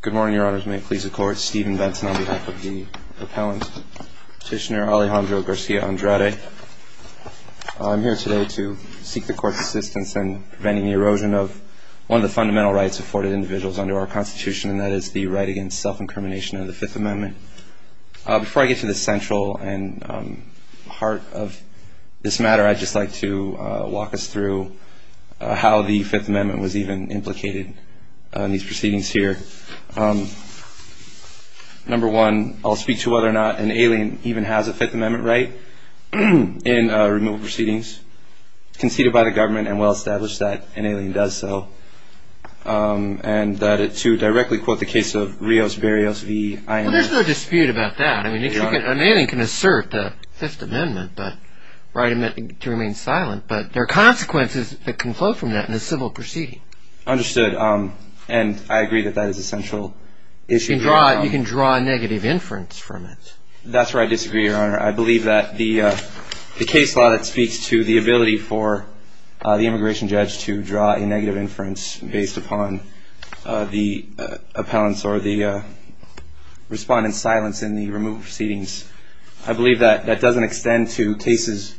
Good morning, Your Honors. May it please the Court, Stephen Benton on behalf of the Appellant Petitioner Alejandro Garcia-Andrade. I'm here today to seek the Court's assistance in preventing the erosion of one of the fundamental rights afforded to individuals under our Constitution, and that is the right against self-incrimination under the Fifth Amendment. Before I get to the central and heart of this matter, I'd just like to walk us through how the Fifth Amendment was even implicated in these proceedings here. Number one, I'll speak to whether or not an alien even has a Fifth Amendment right in removal proceedings. It's conceded by the government and well-established that an alien does so. And two, directly quote the case of Rios-Barrios v. INL. Stephen-Well, there's no dispute about that. I mean, an alien can assert the Fifth Amendment right to remain silent, but there are consequences that can flow from that in a civil proceeding. Alejandro-Understood. And I agree that that is a central issue. Stephen-You can draw a negative inference from it. Alejandro-That's where I disagree, Your Honor. I believe that the case law that speaks to the ability for the immigration judge to draw a negative inference based upon the appellant's or the respondent's silence in the removal proceedings, I believe that that doesn't extend to cases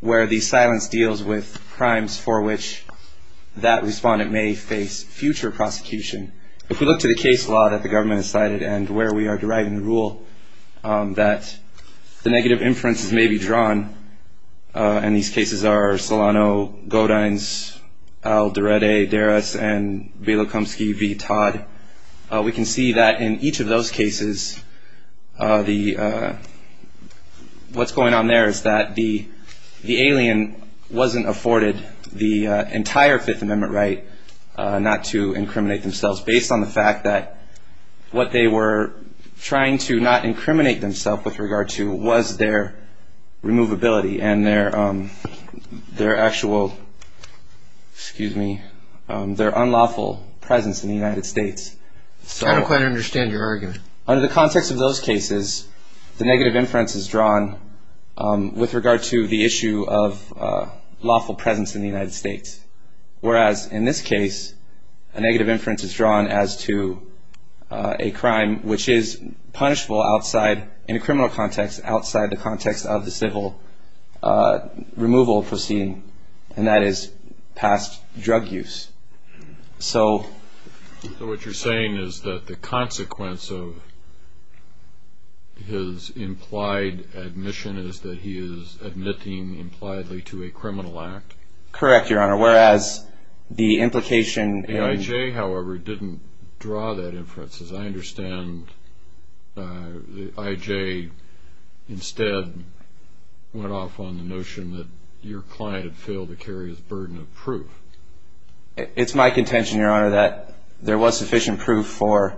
where the silence deals with crimes for which that respondent may face future prosecution. If we look to the case law that the government has cited and where we are deriving the rule that the negative inferences may be drawn, and these cases are Solano, Godines, Alderete, Deris, and Velikomsky v. Todd, we can see that in each of those cases, what's going on there is that the alien wasn't afforded the entire Fifth Amendment right not to incriminate themselves based on the fact that what they were trying to not incriminate themselves with regard to was their removability and their actual, excuse me, their unlawful presence in the United States. Stephen-I don't quite understand your argument. Alejandro-Under the context of those cases, the negative inference is drawn with regard to the issue of lawful presence in the United States, whereas in this case a negative inference is drawn as to a crime which is punishable outside, in a criminal context, outside the context of the civil removal proceeding, and that is past drug use. So what you're saying is that the consequence of his implied admission is that he is admitting impliedly to a criminal act? Correct, Your Honor, whereas the implication in- I.J. instead went off on the notion that your client had failed to carry his burden of proof. It's my contention, Your Honor, that there was sufficient proof for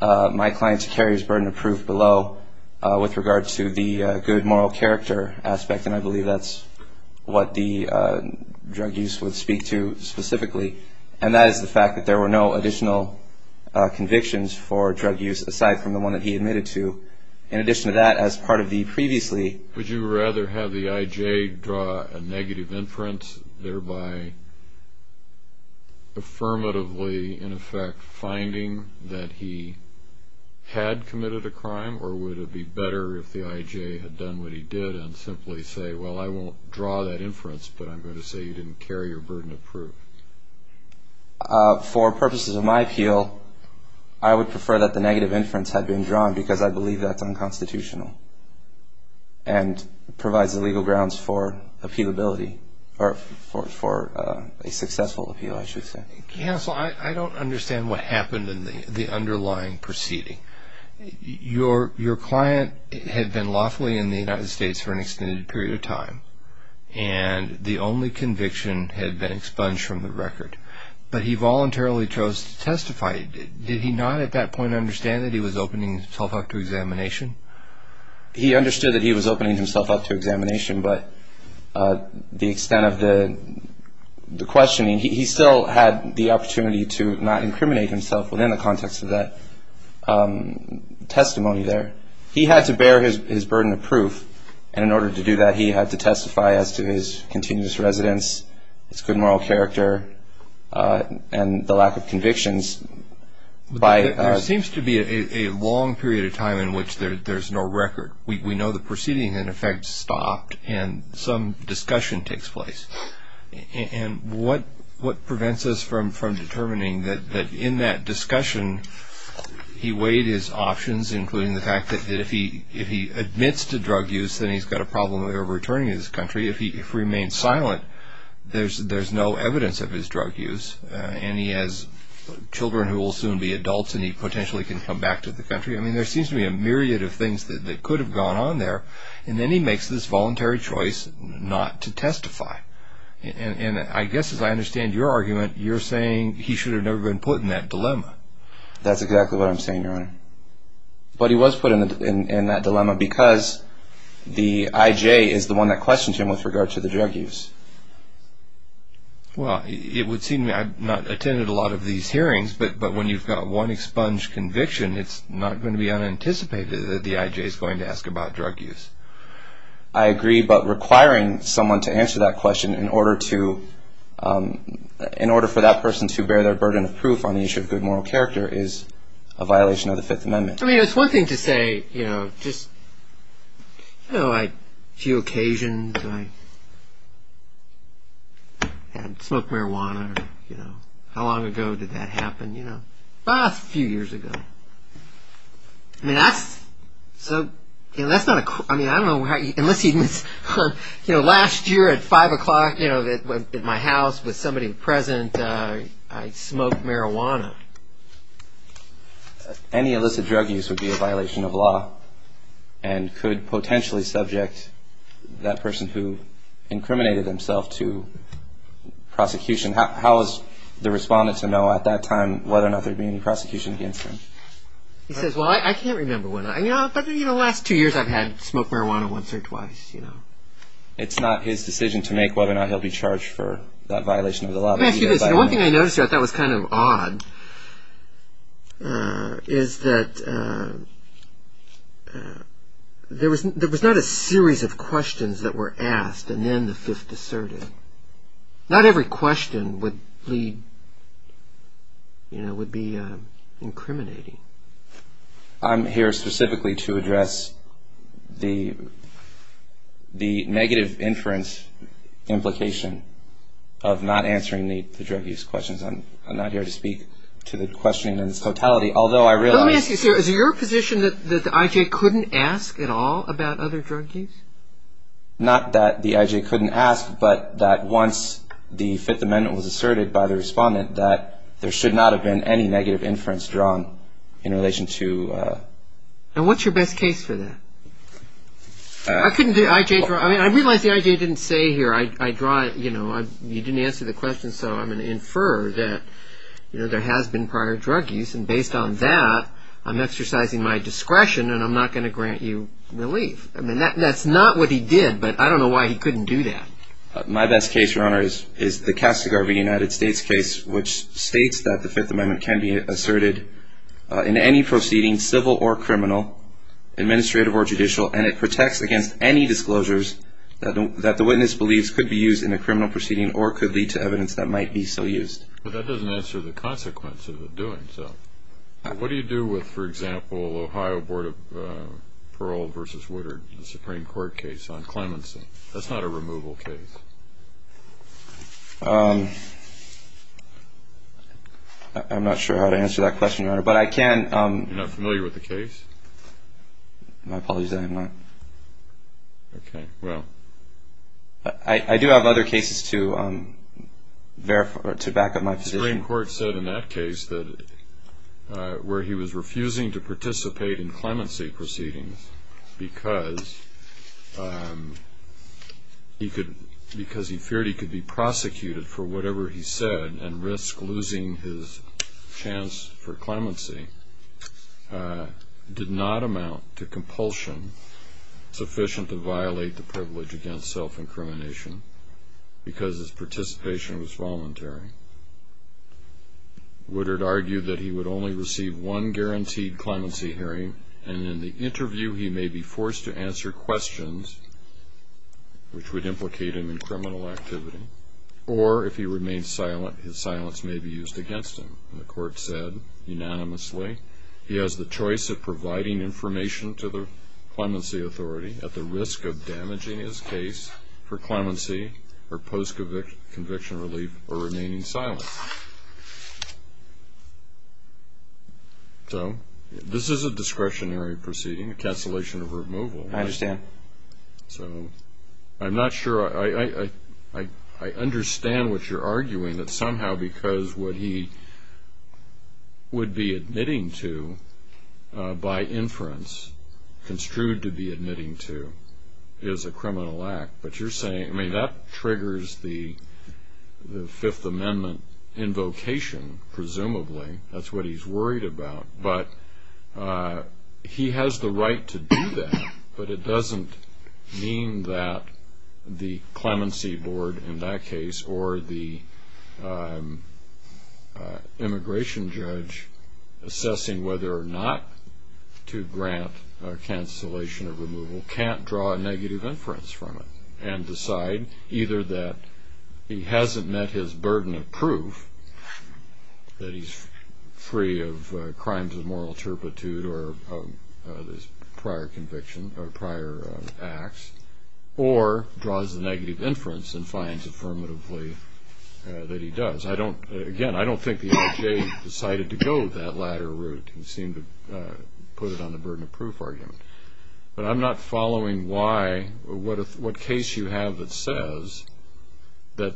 my client to carry his burden of proof below with regard to the good moral character aspect, and I believe that's what the drug use would speak to specifically, and that is the fact that there were no additional convictions for drug use aside from the one that he admitted to. In addition to that, as part of the previously- Would you rather have the I.J. draw a negative inference, thereby affirmatively, in effect, finding that he had committed a crime, or would it be better if the I.J. had done what he did and simply say, well, I won't draw that inference, but I'm going to say you didn't carry your burden of proof? For purposes of my appeal, I would prefer that the negative inference had been drawn, because I believe that's unconstitutional and provides the legal grounds for appealability, or for a successful appeal, I should say. Counsel, I don't understand what happened in the underlying proceeding. Your client had been lawfully in the United States for an extended period of time, and the only conviction had been expunged from the record, but he voluntarily chose to testify. Did he not at that point understand that he was opening himself up to examination? He understood that he was opening himself up to examination, but the extent of the questioning, he still had the opportunity to not incriminate himself within the context of that testimony there. He had to bear his burden of proof, and in order to do that, he had to testify as to his continuous residence, his good moral character, and the lack of convictions. There seems to be a long period of time in which there's no record. We know the proceeding, in effect, stopped, and some discussion takes place. And what prevents us from determining that in that discussion, he weighed his options, including the fact that if he admits to drug use, then he's got a problem with ever returning to this country. If he remains silent, there's no evidence of his drug use, and he has children who will soon be adults, and he potentially can come back to the country. I mean, there seems to be a myriad of things that could have gone on there, and then he makes this voluntary choice not to testify. And I guess, as I understand your argument, you're saying he should have never been put in that dilemma. That's exactly what I'm saying, Your Honor. But he was put in that dilemma because the I.J. is the one that questioned him with regard to the drug use. Well, it would seem I've not attended a lot of these hearings, but when you've got one expunged conviction, it's not going to be unanticipated that the I.J. is going to ask about drug use. I agree, but requiring someone to answer that question in order for that person to bear their burden of proof on the issue of good moral character is a violation of the Fifth Amendment. I mean, it's one thing to say, you know, just, you know, a few occasions I had smoked marijuana. You know, how long ago did that happen? You know, a few years ago. I mean, that's so, you know, that's not a, I mean, I don't know how, unless he admits, you know, last year at five o'clock, you know, at my house with somebody present, I smoked marijuana. Any illicit drug use would be a violation of law and could potentially subject that person who incriminated himself to prosecution. How is the respondent to know at that time whether or not there would be any prosecution against him? He says, well, I can't remember when. You know, the last two years I've had smoked marijuana once or twice, you know. It's not his decision to make whether or not he'll be charged for that violation of the law. Let me ask you this. The one thing I noticed that was kind of odd is that there was not a series of questions that were asked and then the fifth asserted. Not every question would lead, you know, would be incriminating. I'm here specifically to address the negative inference implication of not answering the drug use questions. I'm not here to speak to the questioning in its totality, although I realize... Let me ask you, sir, is it your position that the IJ couldn't ask at all about other drug use? Not that the IJ couldn't ask, but that once the Fifth Amendment was asserted by the respondent, that there should not have been any negative inference drawn in relation to... And what's your best case for that? I realize the IJ didn't say here, I draw it, you know, you didn't answer the question, so I'm going to infer that there has been prior drug use and based on that, I'm exercising my discretion and I'm not going to grant you relief. I mean, that's not what he did, but I don't know why he couldn't do that. My best case, Your Honor, is the Kastigar v. United States case, which states that the Fifth Amendment can be asserted in any proceeding, civil or criminal, administrative or judicial, and it protects against any disclosures that the witness believes could be used in a criminal proceeding or could lead to evidence that might be so used. But that doesn't answer the consequences of doing so. What do you do with, for example, Ohio Board of Parole v. Woodard, the Supreme Court case on clemency? That's not a removal case. I'm not sure how to answer that question, Your Honor, but I can... You're not familiar with the case? My apologies, I am not. Okay, well... I do have other cases to back up my position. The Supreme Court said in that case that where he was refusing to participate in clemency proceedings because he feared he could be prosecuted for whatever he said and risk losing his chance for clemency, did not amount to compulsion sufficient to violate the privilege against self-incrimination because his participation was voluntary. Woodard argued that he would only receive one guaranteed clemency hearing and in the interview he may be forced to answer questions which would implicate him in criminal activity, or if he remained silent, his silence may be used against him. The court said unanimously he has the choice of providing information to the clemency authority at the risk of damaging his case for clemency or post-conviction relief or remaining silent. So this is a discretionary proceeding, a cancellation of removal. I understand. So I'm not sure I... I understand what you're arguing that somehow because what he would be admitting to by inference, construed to be admitting to, is a criminal act. But you're saying, I mean, that triggers the Fifth Amendment invocation, presumably. That's what he's worried about. But he has the right to do that, but it doesn't mean that the clemency board in that case or the immigration judge assessing whether or not to grant a cancellation of removal can't draw a negative inference from it and decide either that he hasn't met his burden of proof, that he's free of crimes of moral turpitude or prior conviction or prior acts, or draws a negative inference and finds affirmatively that he does. Again, I don't think the LJ decided to go that latter route. He seemed to put it on the burden of proof argument. But I'm not following why or what case you have that says that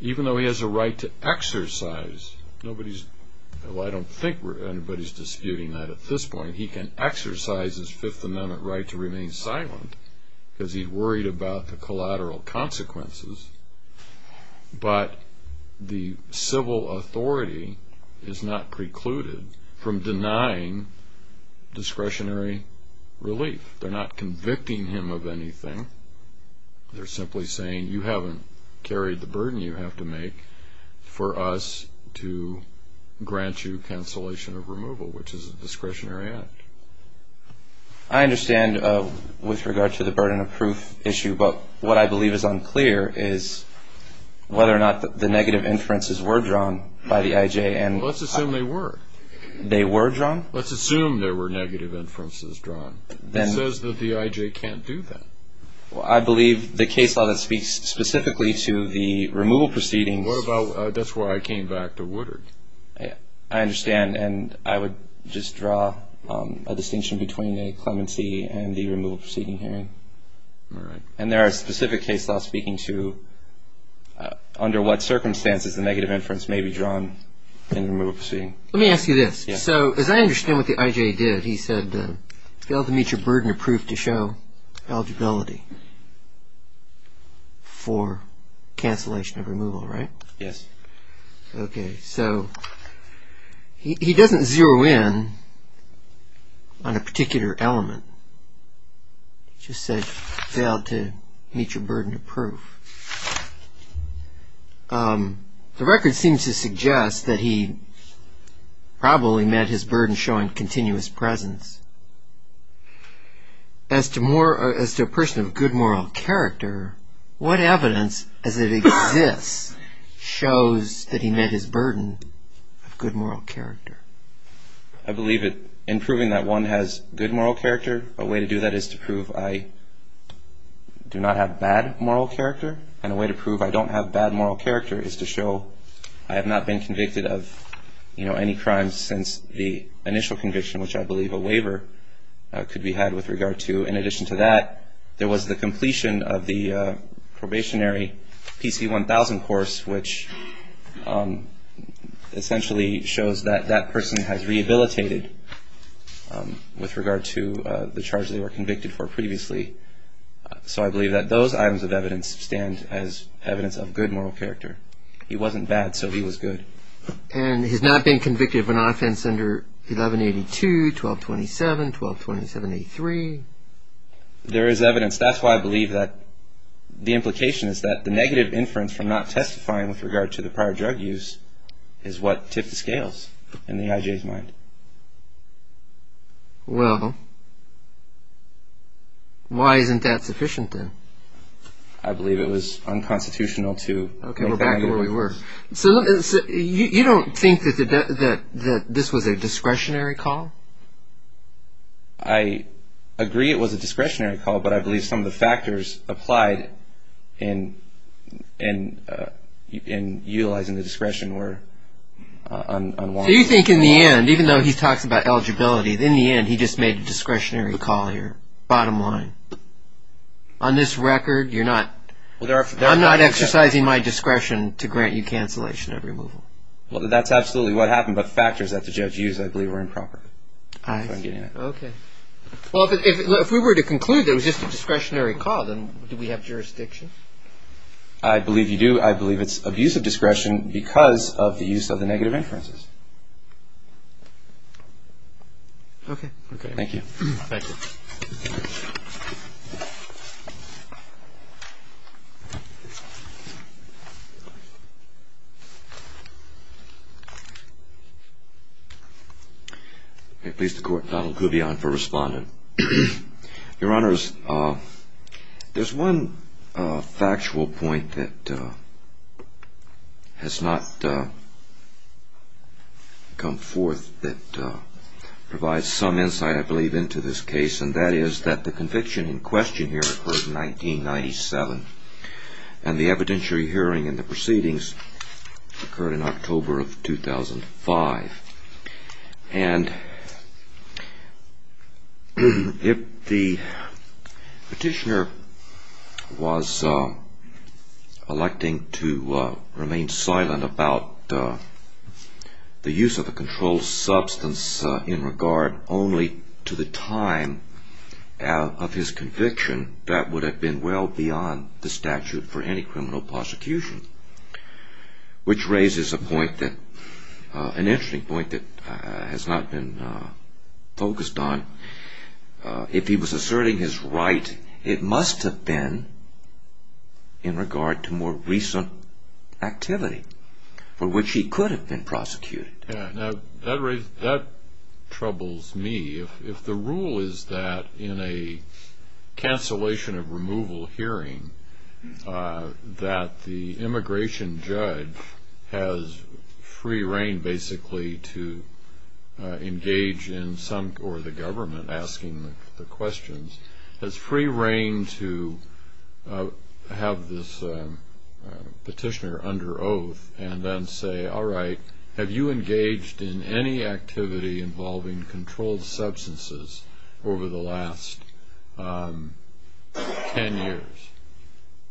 even though he has a right to exercise, nobody's...well, I don't think anybody's disputing that at this point. He can exercise his Fifth Amendment right to remain silent because he's worried about the collateral consequences, but the civil authority is not precluded from denying discretionary relief. They're not convicting him of anything. They're simply saying, you haven't carried the burden you have to make for us to grant you cancellation of removal, which is a discretionary act. I understand with regard to the burden of proof issue, but what I believe is unclear is whether or not the negative inferences were drawn by the IJ. Let's assume they were. They were drawn? Let's assume there were negative inferences drawn. It says that the IJ can't do that. I believe the case law that speaks specifically to the removal proceedings... That's why I came back to Woodard. I understand. And I would just draw a distinction between a clemency and the removal proceeding hearing. And there are specific case laws speaking to under what circumstances the negative inference may be drawn in the removal proceeding. Let me ask you this. So as I understand what the IJ did, he said, failed to meet your burden of proof to show eligibility for cancellation of removal, right? Yes. Okay. So he doesn't zero in on a particular element. He just said, failed to meet your burden of proof. The record seems to suggest that he probably met his burden showing continuous presence. As to a person of good moral character, what evidence as it exists shows that he met his burden of good moral character? I believe that in proving that one has good moral character, a way to do that is to prove I do not have bad moral character, and a way to prove I don't have bad moral character is to show I have not been convicted of any crimes since the initial conviction, which I believe a waiver could be had with regard to. In addition to that, there was the completion of the probationary PC-1000 course, which essentially shows that that person has rehabilitated with regard to the charges they were convicted for previously. So I believe that those items of evidence stand as evidence of good moral character. He wasn't bad, so he was good. And he's not been convicted of an offense under 1182, 1227, 1227-83? There is evidence. There is evidence. That's why I believe that the implication is that the negative inference from not testifying with regard to the prior drug use is what tipped the scales in the IJ's mind. Well, why isn't that sufficient then? I believe it was unconstitutional to... Okay, we're back to where we were. So you don't think that this was a discretionary call? I agree it was a discretionary call, but I believe some of the factors applied in utilizing the discretion were unwanted. So you think in the end, even though he talks about eligibility, in the end he just made a discretionary call here, bottom line. On this record, you're not... I'm not exercising my discretion to grant you cancellation of removal. Well, that's absolutely what happened, but factors that the judge used, I believe, were improper. I see. Okay. Well, if we were to conclude that it was just a discretionary call, then do we have jurisdiction? I believe you do. I believe it's abuse of discretion because of the use of the negative inferences. Okay. Thank you. Thank you. Okay. Please, the Court. Donald Kubian for respondent. Your Honors, there's one factual point that has not come forth that provides some insight, I believe, into this case, and that is that the conviction in question here occurred in 1997, and the evidentiary hearing and the proceedings occurred in October of 2005. And if the petitioner was electing to remain silent about the use of a controlled substance in regard only to the time of his conviction, that would have been well beyond the statute for any criminal prosecution, which raises an interesting point that has not been focused on. If he was asserting his right, it must have been in regard to more recent activity for which he could have been prosecuted. Now, that troubles me. If the rule is that in a cancellation of removal hearing that the immigration judge has free reign basically to engage in some or the government asking the questions, has free reign to have this petitioner under oath and then say, all right, have you engaged in any activity involving controlled substances over the last 10 years?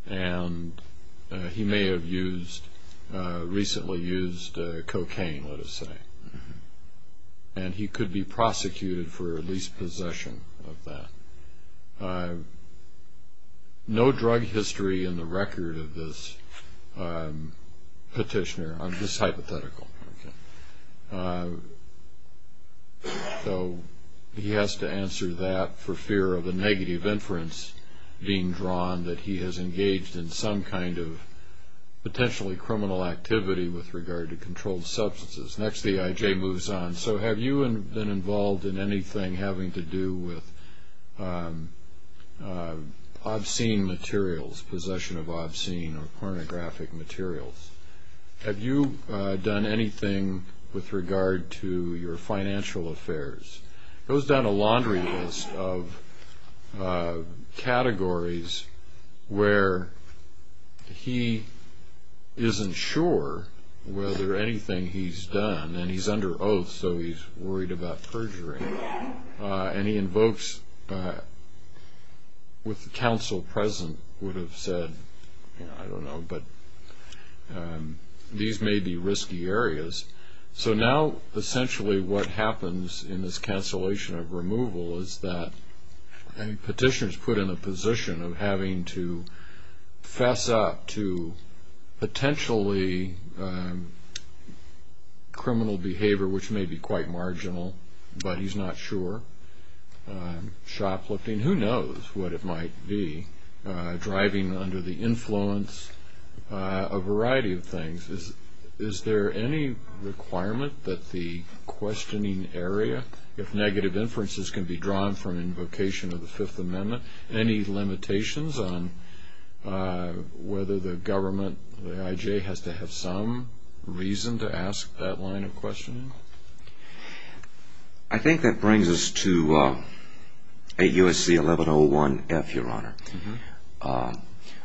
And he may have used, recently used cocaine, let us say. And he could be prosecuted for at least possession of that. No drug history in the record of this petitioner. This is hypothetical. So he has to answer that for fear of a negative inference being drawn that he has engaged in some kind of potentially criminal activity with regard to controlled substances. Next, the IJ moves on. So have you been involved in anything having to do with obscene materials, possession of obscene or pornographic materials? Have you done anything with regard to your financial affairs? It goes down a laundry list of categories where he isn't sure whether anything he's done. And he's under oath, so he's worried about perjury. And he invokes what the counsel present would have said, I don't know, but these may be risky areas. So now essentially what happens in this cancellation of removal is that a petitioner is put in a position of having to fess up to potentially criminal behavior, which may be quite marginal, but he's not sure. Shoplifting, who knows what it might be. Driving under the influence, a variety of things. Is there any requirement that the questioning area, if negative inferences can be drawn from invocation of the Fifth Amendment, any limitations on whether the government, the IJ, has to have some reason to ask that line of questioning? I think that brings us to AUSC1101F, Your Honor.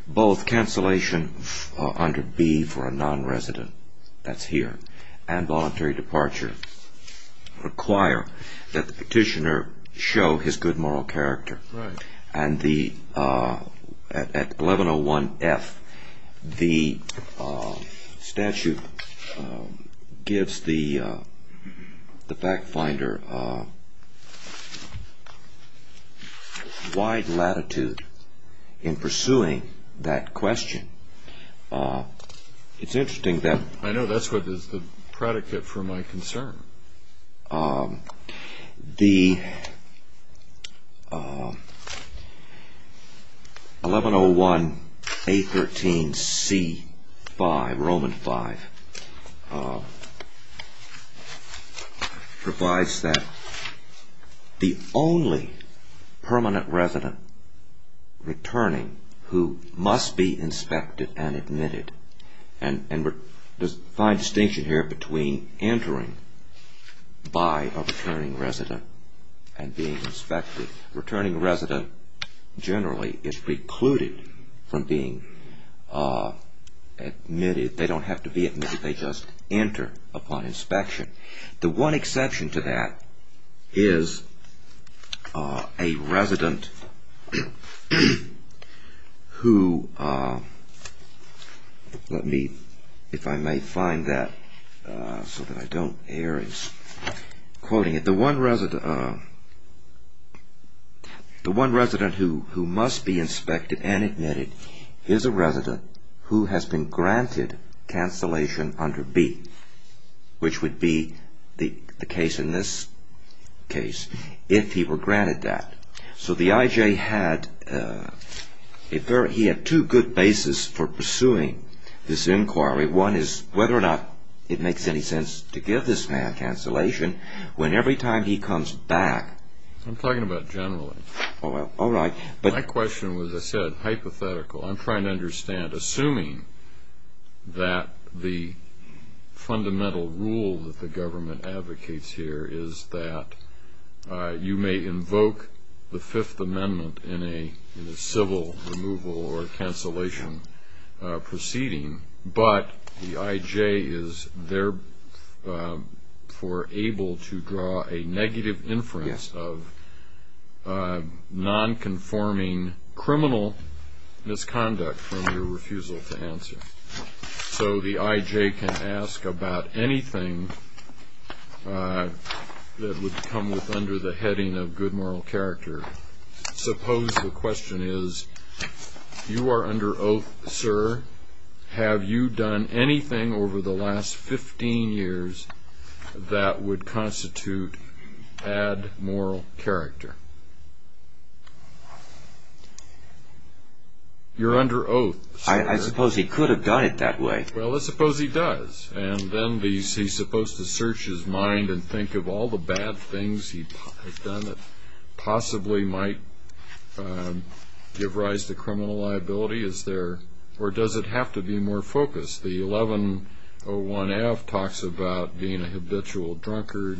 Both cancellation under B for a nonresident, that's here, and voluntary departure require that the petitioner show his good moral character. And at 1101F, the statute gives the fact finder wide latitude in pursuing that question. It's interesting that- I know, that's the predicate for my concern. The 1101A13C5, Roman 5, provides that the only permanent resident returning who must be inspected and admitted, and there's a fine distinction here between entering by a returning resident and being inspected. A returning resident generally is precluded from being admitted. They don't have to be admitted. They just enter upon inspection. The one exception to that is a resident who, let me, if I may find that so that I don't err in quoting it. The one resident who must be inspected and admitted is a resident who has been granted cancellation under B, which would be the case in this case, if he were granted that. So the IJ had two good bases for pursuing this inquiry. One is whether or not it makes any sense to give this man cancellation when every time he comes back- I'm talking about generally. All right, but- My question was, as I said, hypothetical. I'm trying to understand, assuming that the fundamental rule that the government advocates here is that you may invoke the Fifth Amendment in a civil removal or cancellation proceeding, but the IJ is therefore able to draw a negative inference of nonconforming criminal misconduct from your refusal to answer. So the IJ can ask about anything that would come with under the heading of good moral character. Suppose the question is, you are under oath, sir. Have you done anything over the last 15 years that would constitute bad moral character? You're under oath, sir. I suppose he could have done it that way. Well, let's suppose he does. And then he's supposed to search his mind and think of all the bad things he has done that possibly might give rise to criminal liability. Or does it have to be more focused? The 1101F talks about being a habitual drunkard.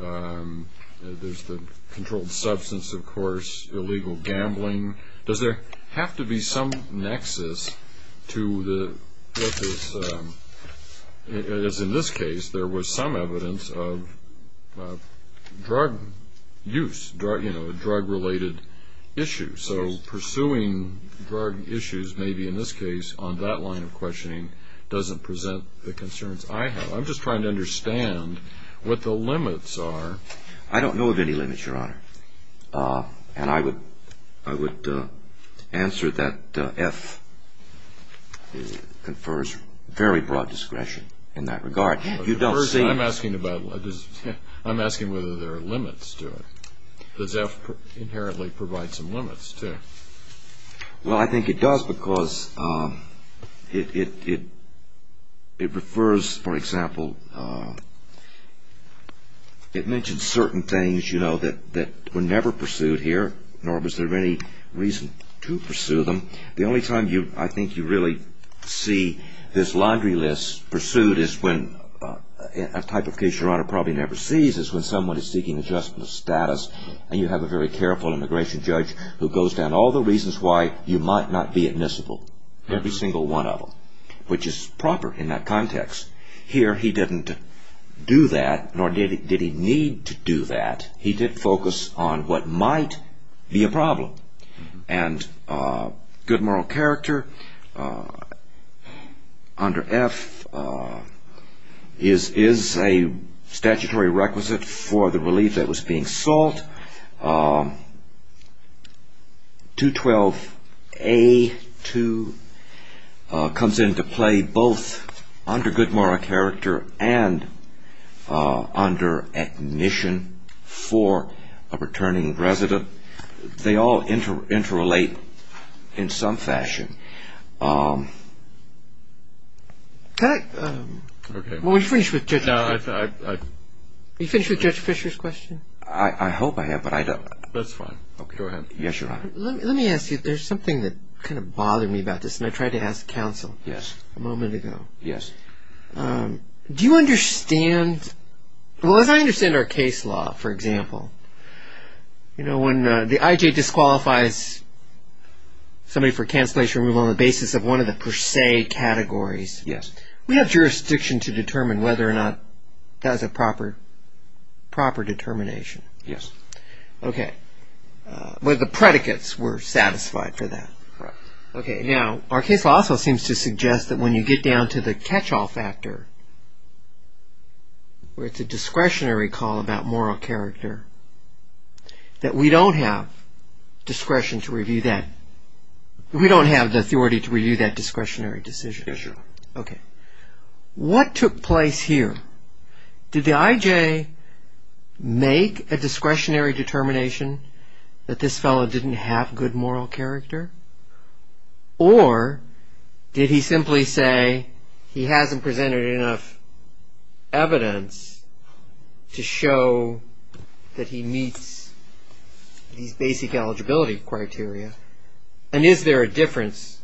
There's the controlled substance, of course, illegal gambling. Does there have to be some nexus to what this is? In this case, there was some evidence of drug use, drug-related issues. So pursuing drug issues, maybe in this case, on that line of questioning doesn't present the concerns I have. I'm just trying to understand what the limits are. I don't know of any limits, Your Honor. And I would answer that F confers very broad discretion in that regard. I'm asking whether there are limits to it. Does F inherently provide some limits, too? Well, I think it does because it refers, for example, it mentions certain things, you know, that were never pursued here, nor was there any reason to pursue them. The only time I think you really see this laundry list pursued is when, a type of case Your Honor probably never sees is when someone is seeking adjustment of status and you have a very careful immigration judge who goes down all the reasons why you might not be admissible, every single one of them, which is proper in that context. Here he didn't do that, nor did he need to do that. He did focus on what might be a problem. And good moral character under F is a statutory requisite for the relief that was being sought. And I think that's where I'm going with this. 212A-2 comes into play both under good moral character and under admission for a returning resident. They all interrelate in some fashion. Can I finish with Judge Fischer's question? I hope I have, but I don't. That's fine. Go ahead. Yes, Your Honor. Let me ask you, there's something that kind of bothered me about this, and I tried to ask counsel a moment ago. Yes. Do you understand, well, as I understand our case law, for example, when the I.J. disqualifies somebody for cancellation removal on the basis of one of the per se categories, we have jurisdiction to determine whether or not that is a proper determination. Yes. Okay. But the predicates were satisfied for that. Correct. Now, our case law also seems to suggest that when you get down to the catch-all factor, where it's a discretionary call about moral character, that we don't have discretion to review that. We don't have the authority to review that discretionary decision. Yes, Your Honor. Okay. What took place here? Did the I.J. make a discretionary determination that this fellow didn't have good moral character? Or did he simply say he hasn't presented enough evidence to show that he meets these basic eligibility criteria? And is there a difference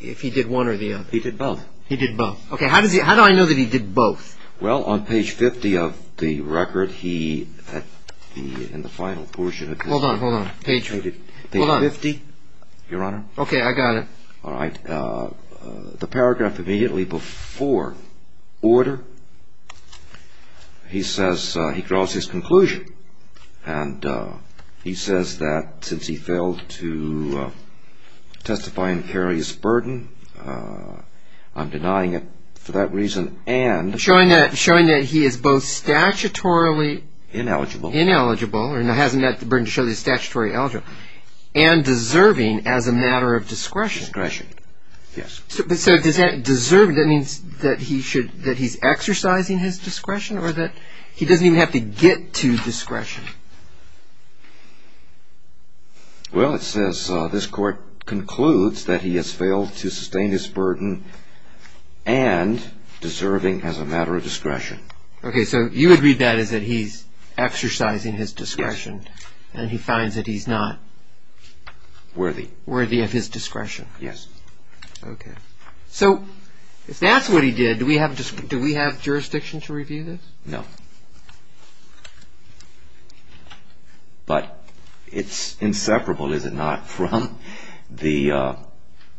if he did one or the other? He did both. He did both. Okay. How do I know that he did both? Well, on page 50 of the record, he, in the final portion of the record. Hold on, hold on. Page 50. Hold on. Page 50, Your Honor. Okay, I got it. All right. The paragraph immediately before order, he says he draws his conclusion, and he says that since he failed to testify and carry his burden, I'm denying it for that reason, and... Showing that he is both statutorily... Ineligible. Ineligible, or hasn't met the burden to show that he's statutorily eligible. And deserving as a matter of discretion. Discretion, yes. So does that, deserving, that means that he should, that he's exercising his discretion, or that he doesn't even have to get to discretion? Well, it says this Court concludes that he has failed to sustain his burden and deserving as a matter of discretion. Okay, so you would read that as that he's exercising his discretion. Yes. And he finds that he's not... Worthy. Worthy of his discretion. Yes. Okay. So if that's what he did, do we have jurisdiction to review this? No. But it's inseparable, is it not, from the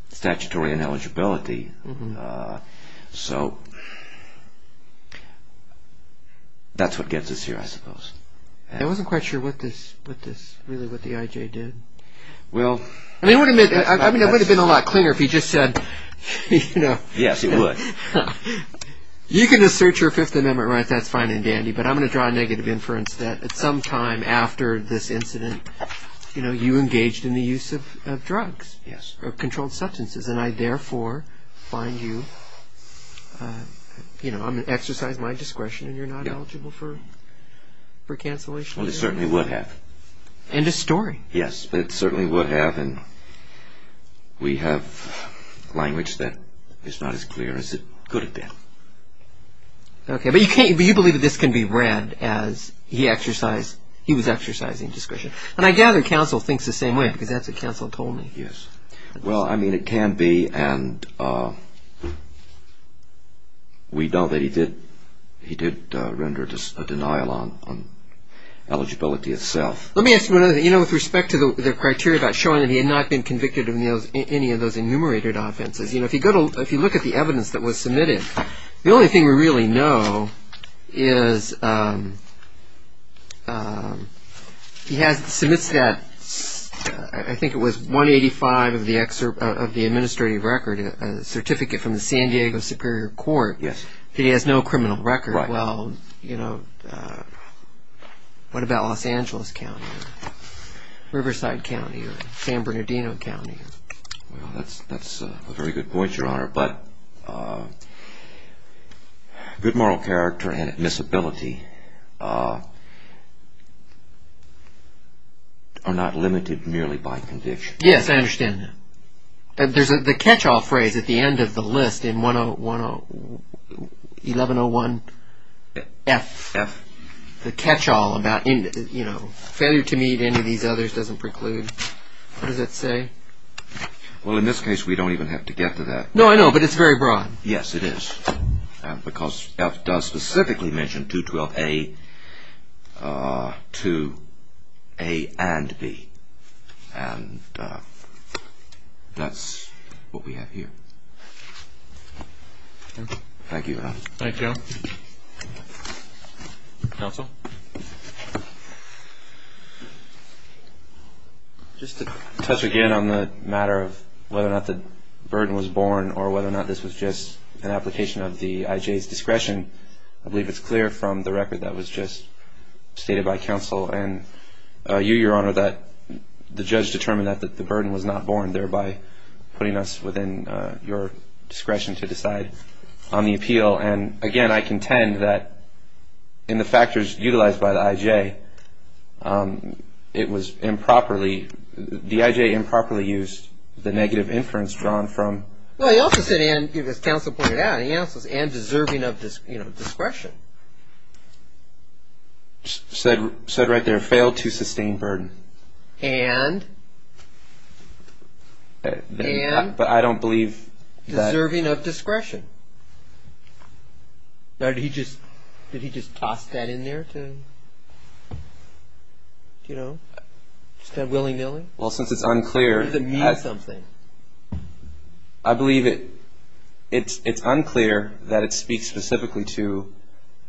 statutory ineligibility. So, that's what gets us here, I suppose. I wasn't quite sure what this, really, what the I.J. did. Well... I mean, it would have been a lot cleaner if he just said, you know... Yes, it would. You can assert your Fifth Amendment right, that's fine and dandy, but I'm going to draw a negative inference that at some time after this incident, you know, you engaged in the use of drugs. Yes. Controlled substances, and I therefore find you, you know, exercise my discretion and you're not eligible for cancellation. Well, it certainly would have. End of story. Yes, but it certainly would have, and we have language that is not as clear as it could have been. Okay, but you believe that this can be read as he was exercising discretion. And I gather counsel thinks the same way, because that's what counsel told me. Yes. Well, I mean, it can be, and we know that he did render a denial on eligibility itself. Let me ask you another thing. You know, with respect to the criteria about showing that he had not been convicted of any of those enumerated offenses, you know, if you look at the evidence that was submitted, the only thing we really know is he submits that, I think it was 185 of the administrative record, a certificate from the San Diego Superior Court. Yes. He has no criminal record. Right. Well, you know, what about Los Angeles County or Riverside County or San Bernardino County? Well, that's a very good point, Your Honor. But good moral character and admissibility are not limited merely by conviction. Yes, I understand that. There's the catch-all phrase at the end of the list in 1101F. F. The catch-all about, you know, failure to meet any of these others doesn't preclude. What does that say? Well, in this case, we don't even have to get to that. No, I know. But it's very broad. Yes, it is. Because F does specifically mention 212A, 2A and B. And that's what we have here. Thank you, Your Honor. Thank you. Thank you. Counsel? Just to touch again on the matter of whether or not the burden was borne or whether or not this was just an application of the IJ's discretion, I believe it's clear from the record that was just stated by counsel and you, Your Honor, that the judge determined that the burden was not borne, thereby putting us within your discretion to decide on the appeal. And, again, I contend that in the factors utilized by the IJ, it was improperly, the IJ improperly used the negative inference drawn from... Well, he also said, as counsel pointed out, he also said, and deserving of discretion. Said right there, failed to sustain burden. And? But I don't believe that... Did he just toss that in there to, you know, just that willy-nilly? Well, since it's unclear... Does it mean something? I believe it's unclear that it speaks specifically to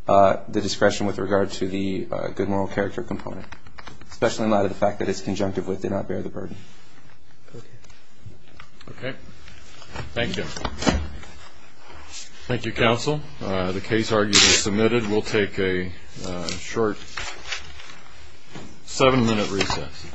the discretion with regard to the good moral character component, especially in light of the fact that it's conjunctive with did not bear the burden. Okay. Okay. Thank you. Thank you, counsel. The case argument is submitted. We'll take a short seven-minute recess.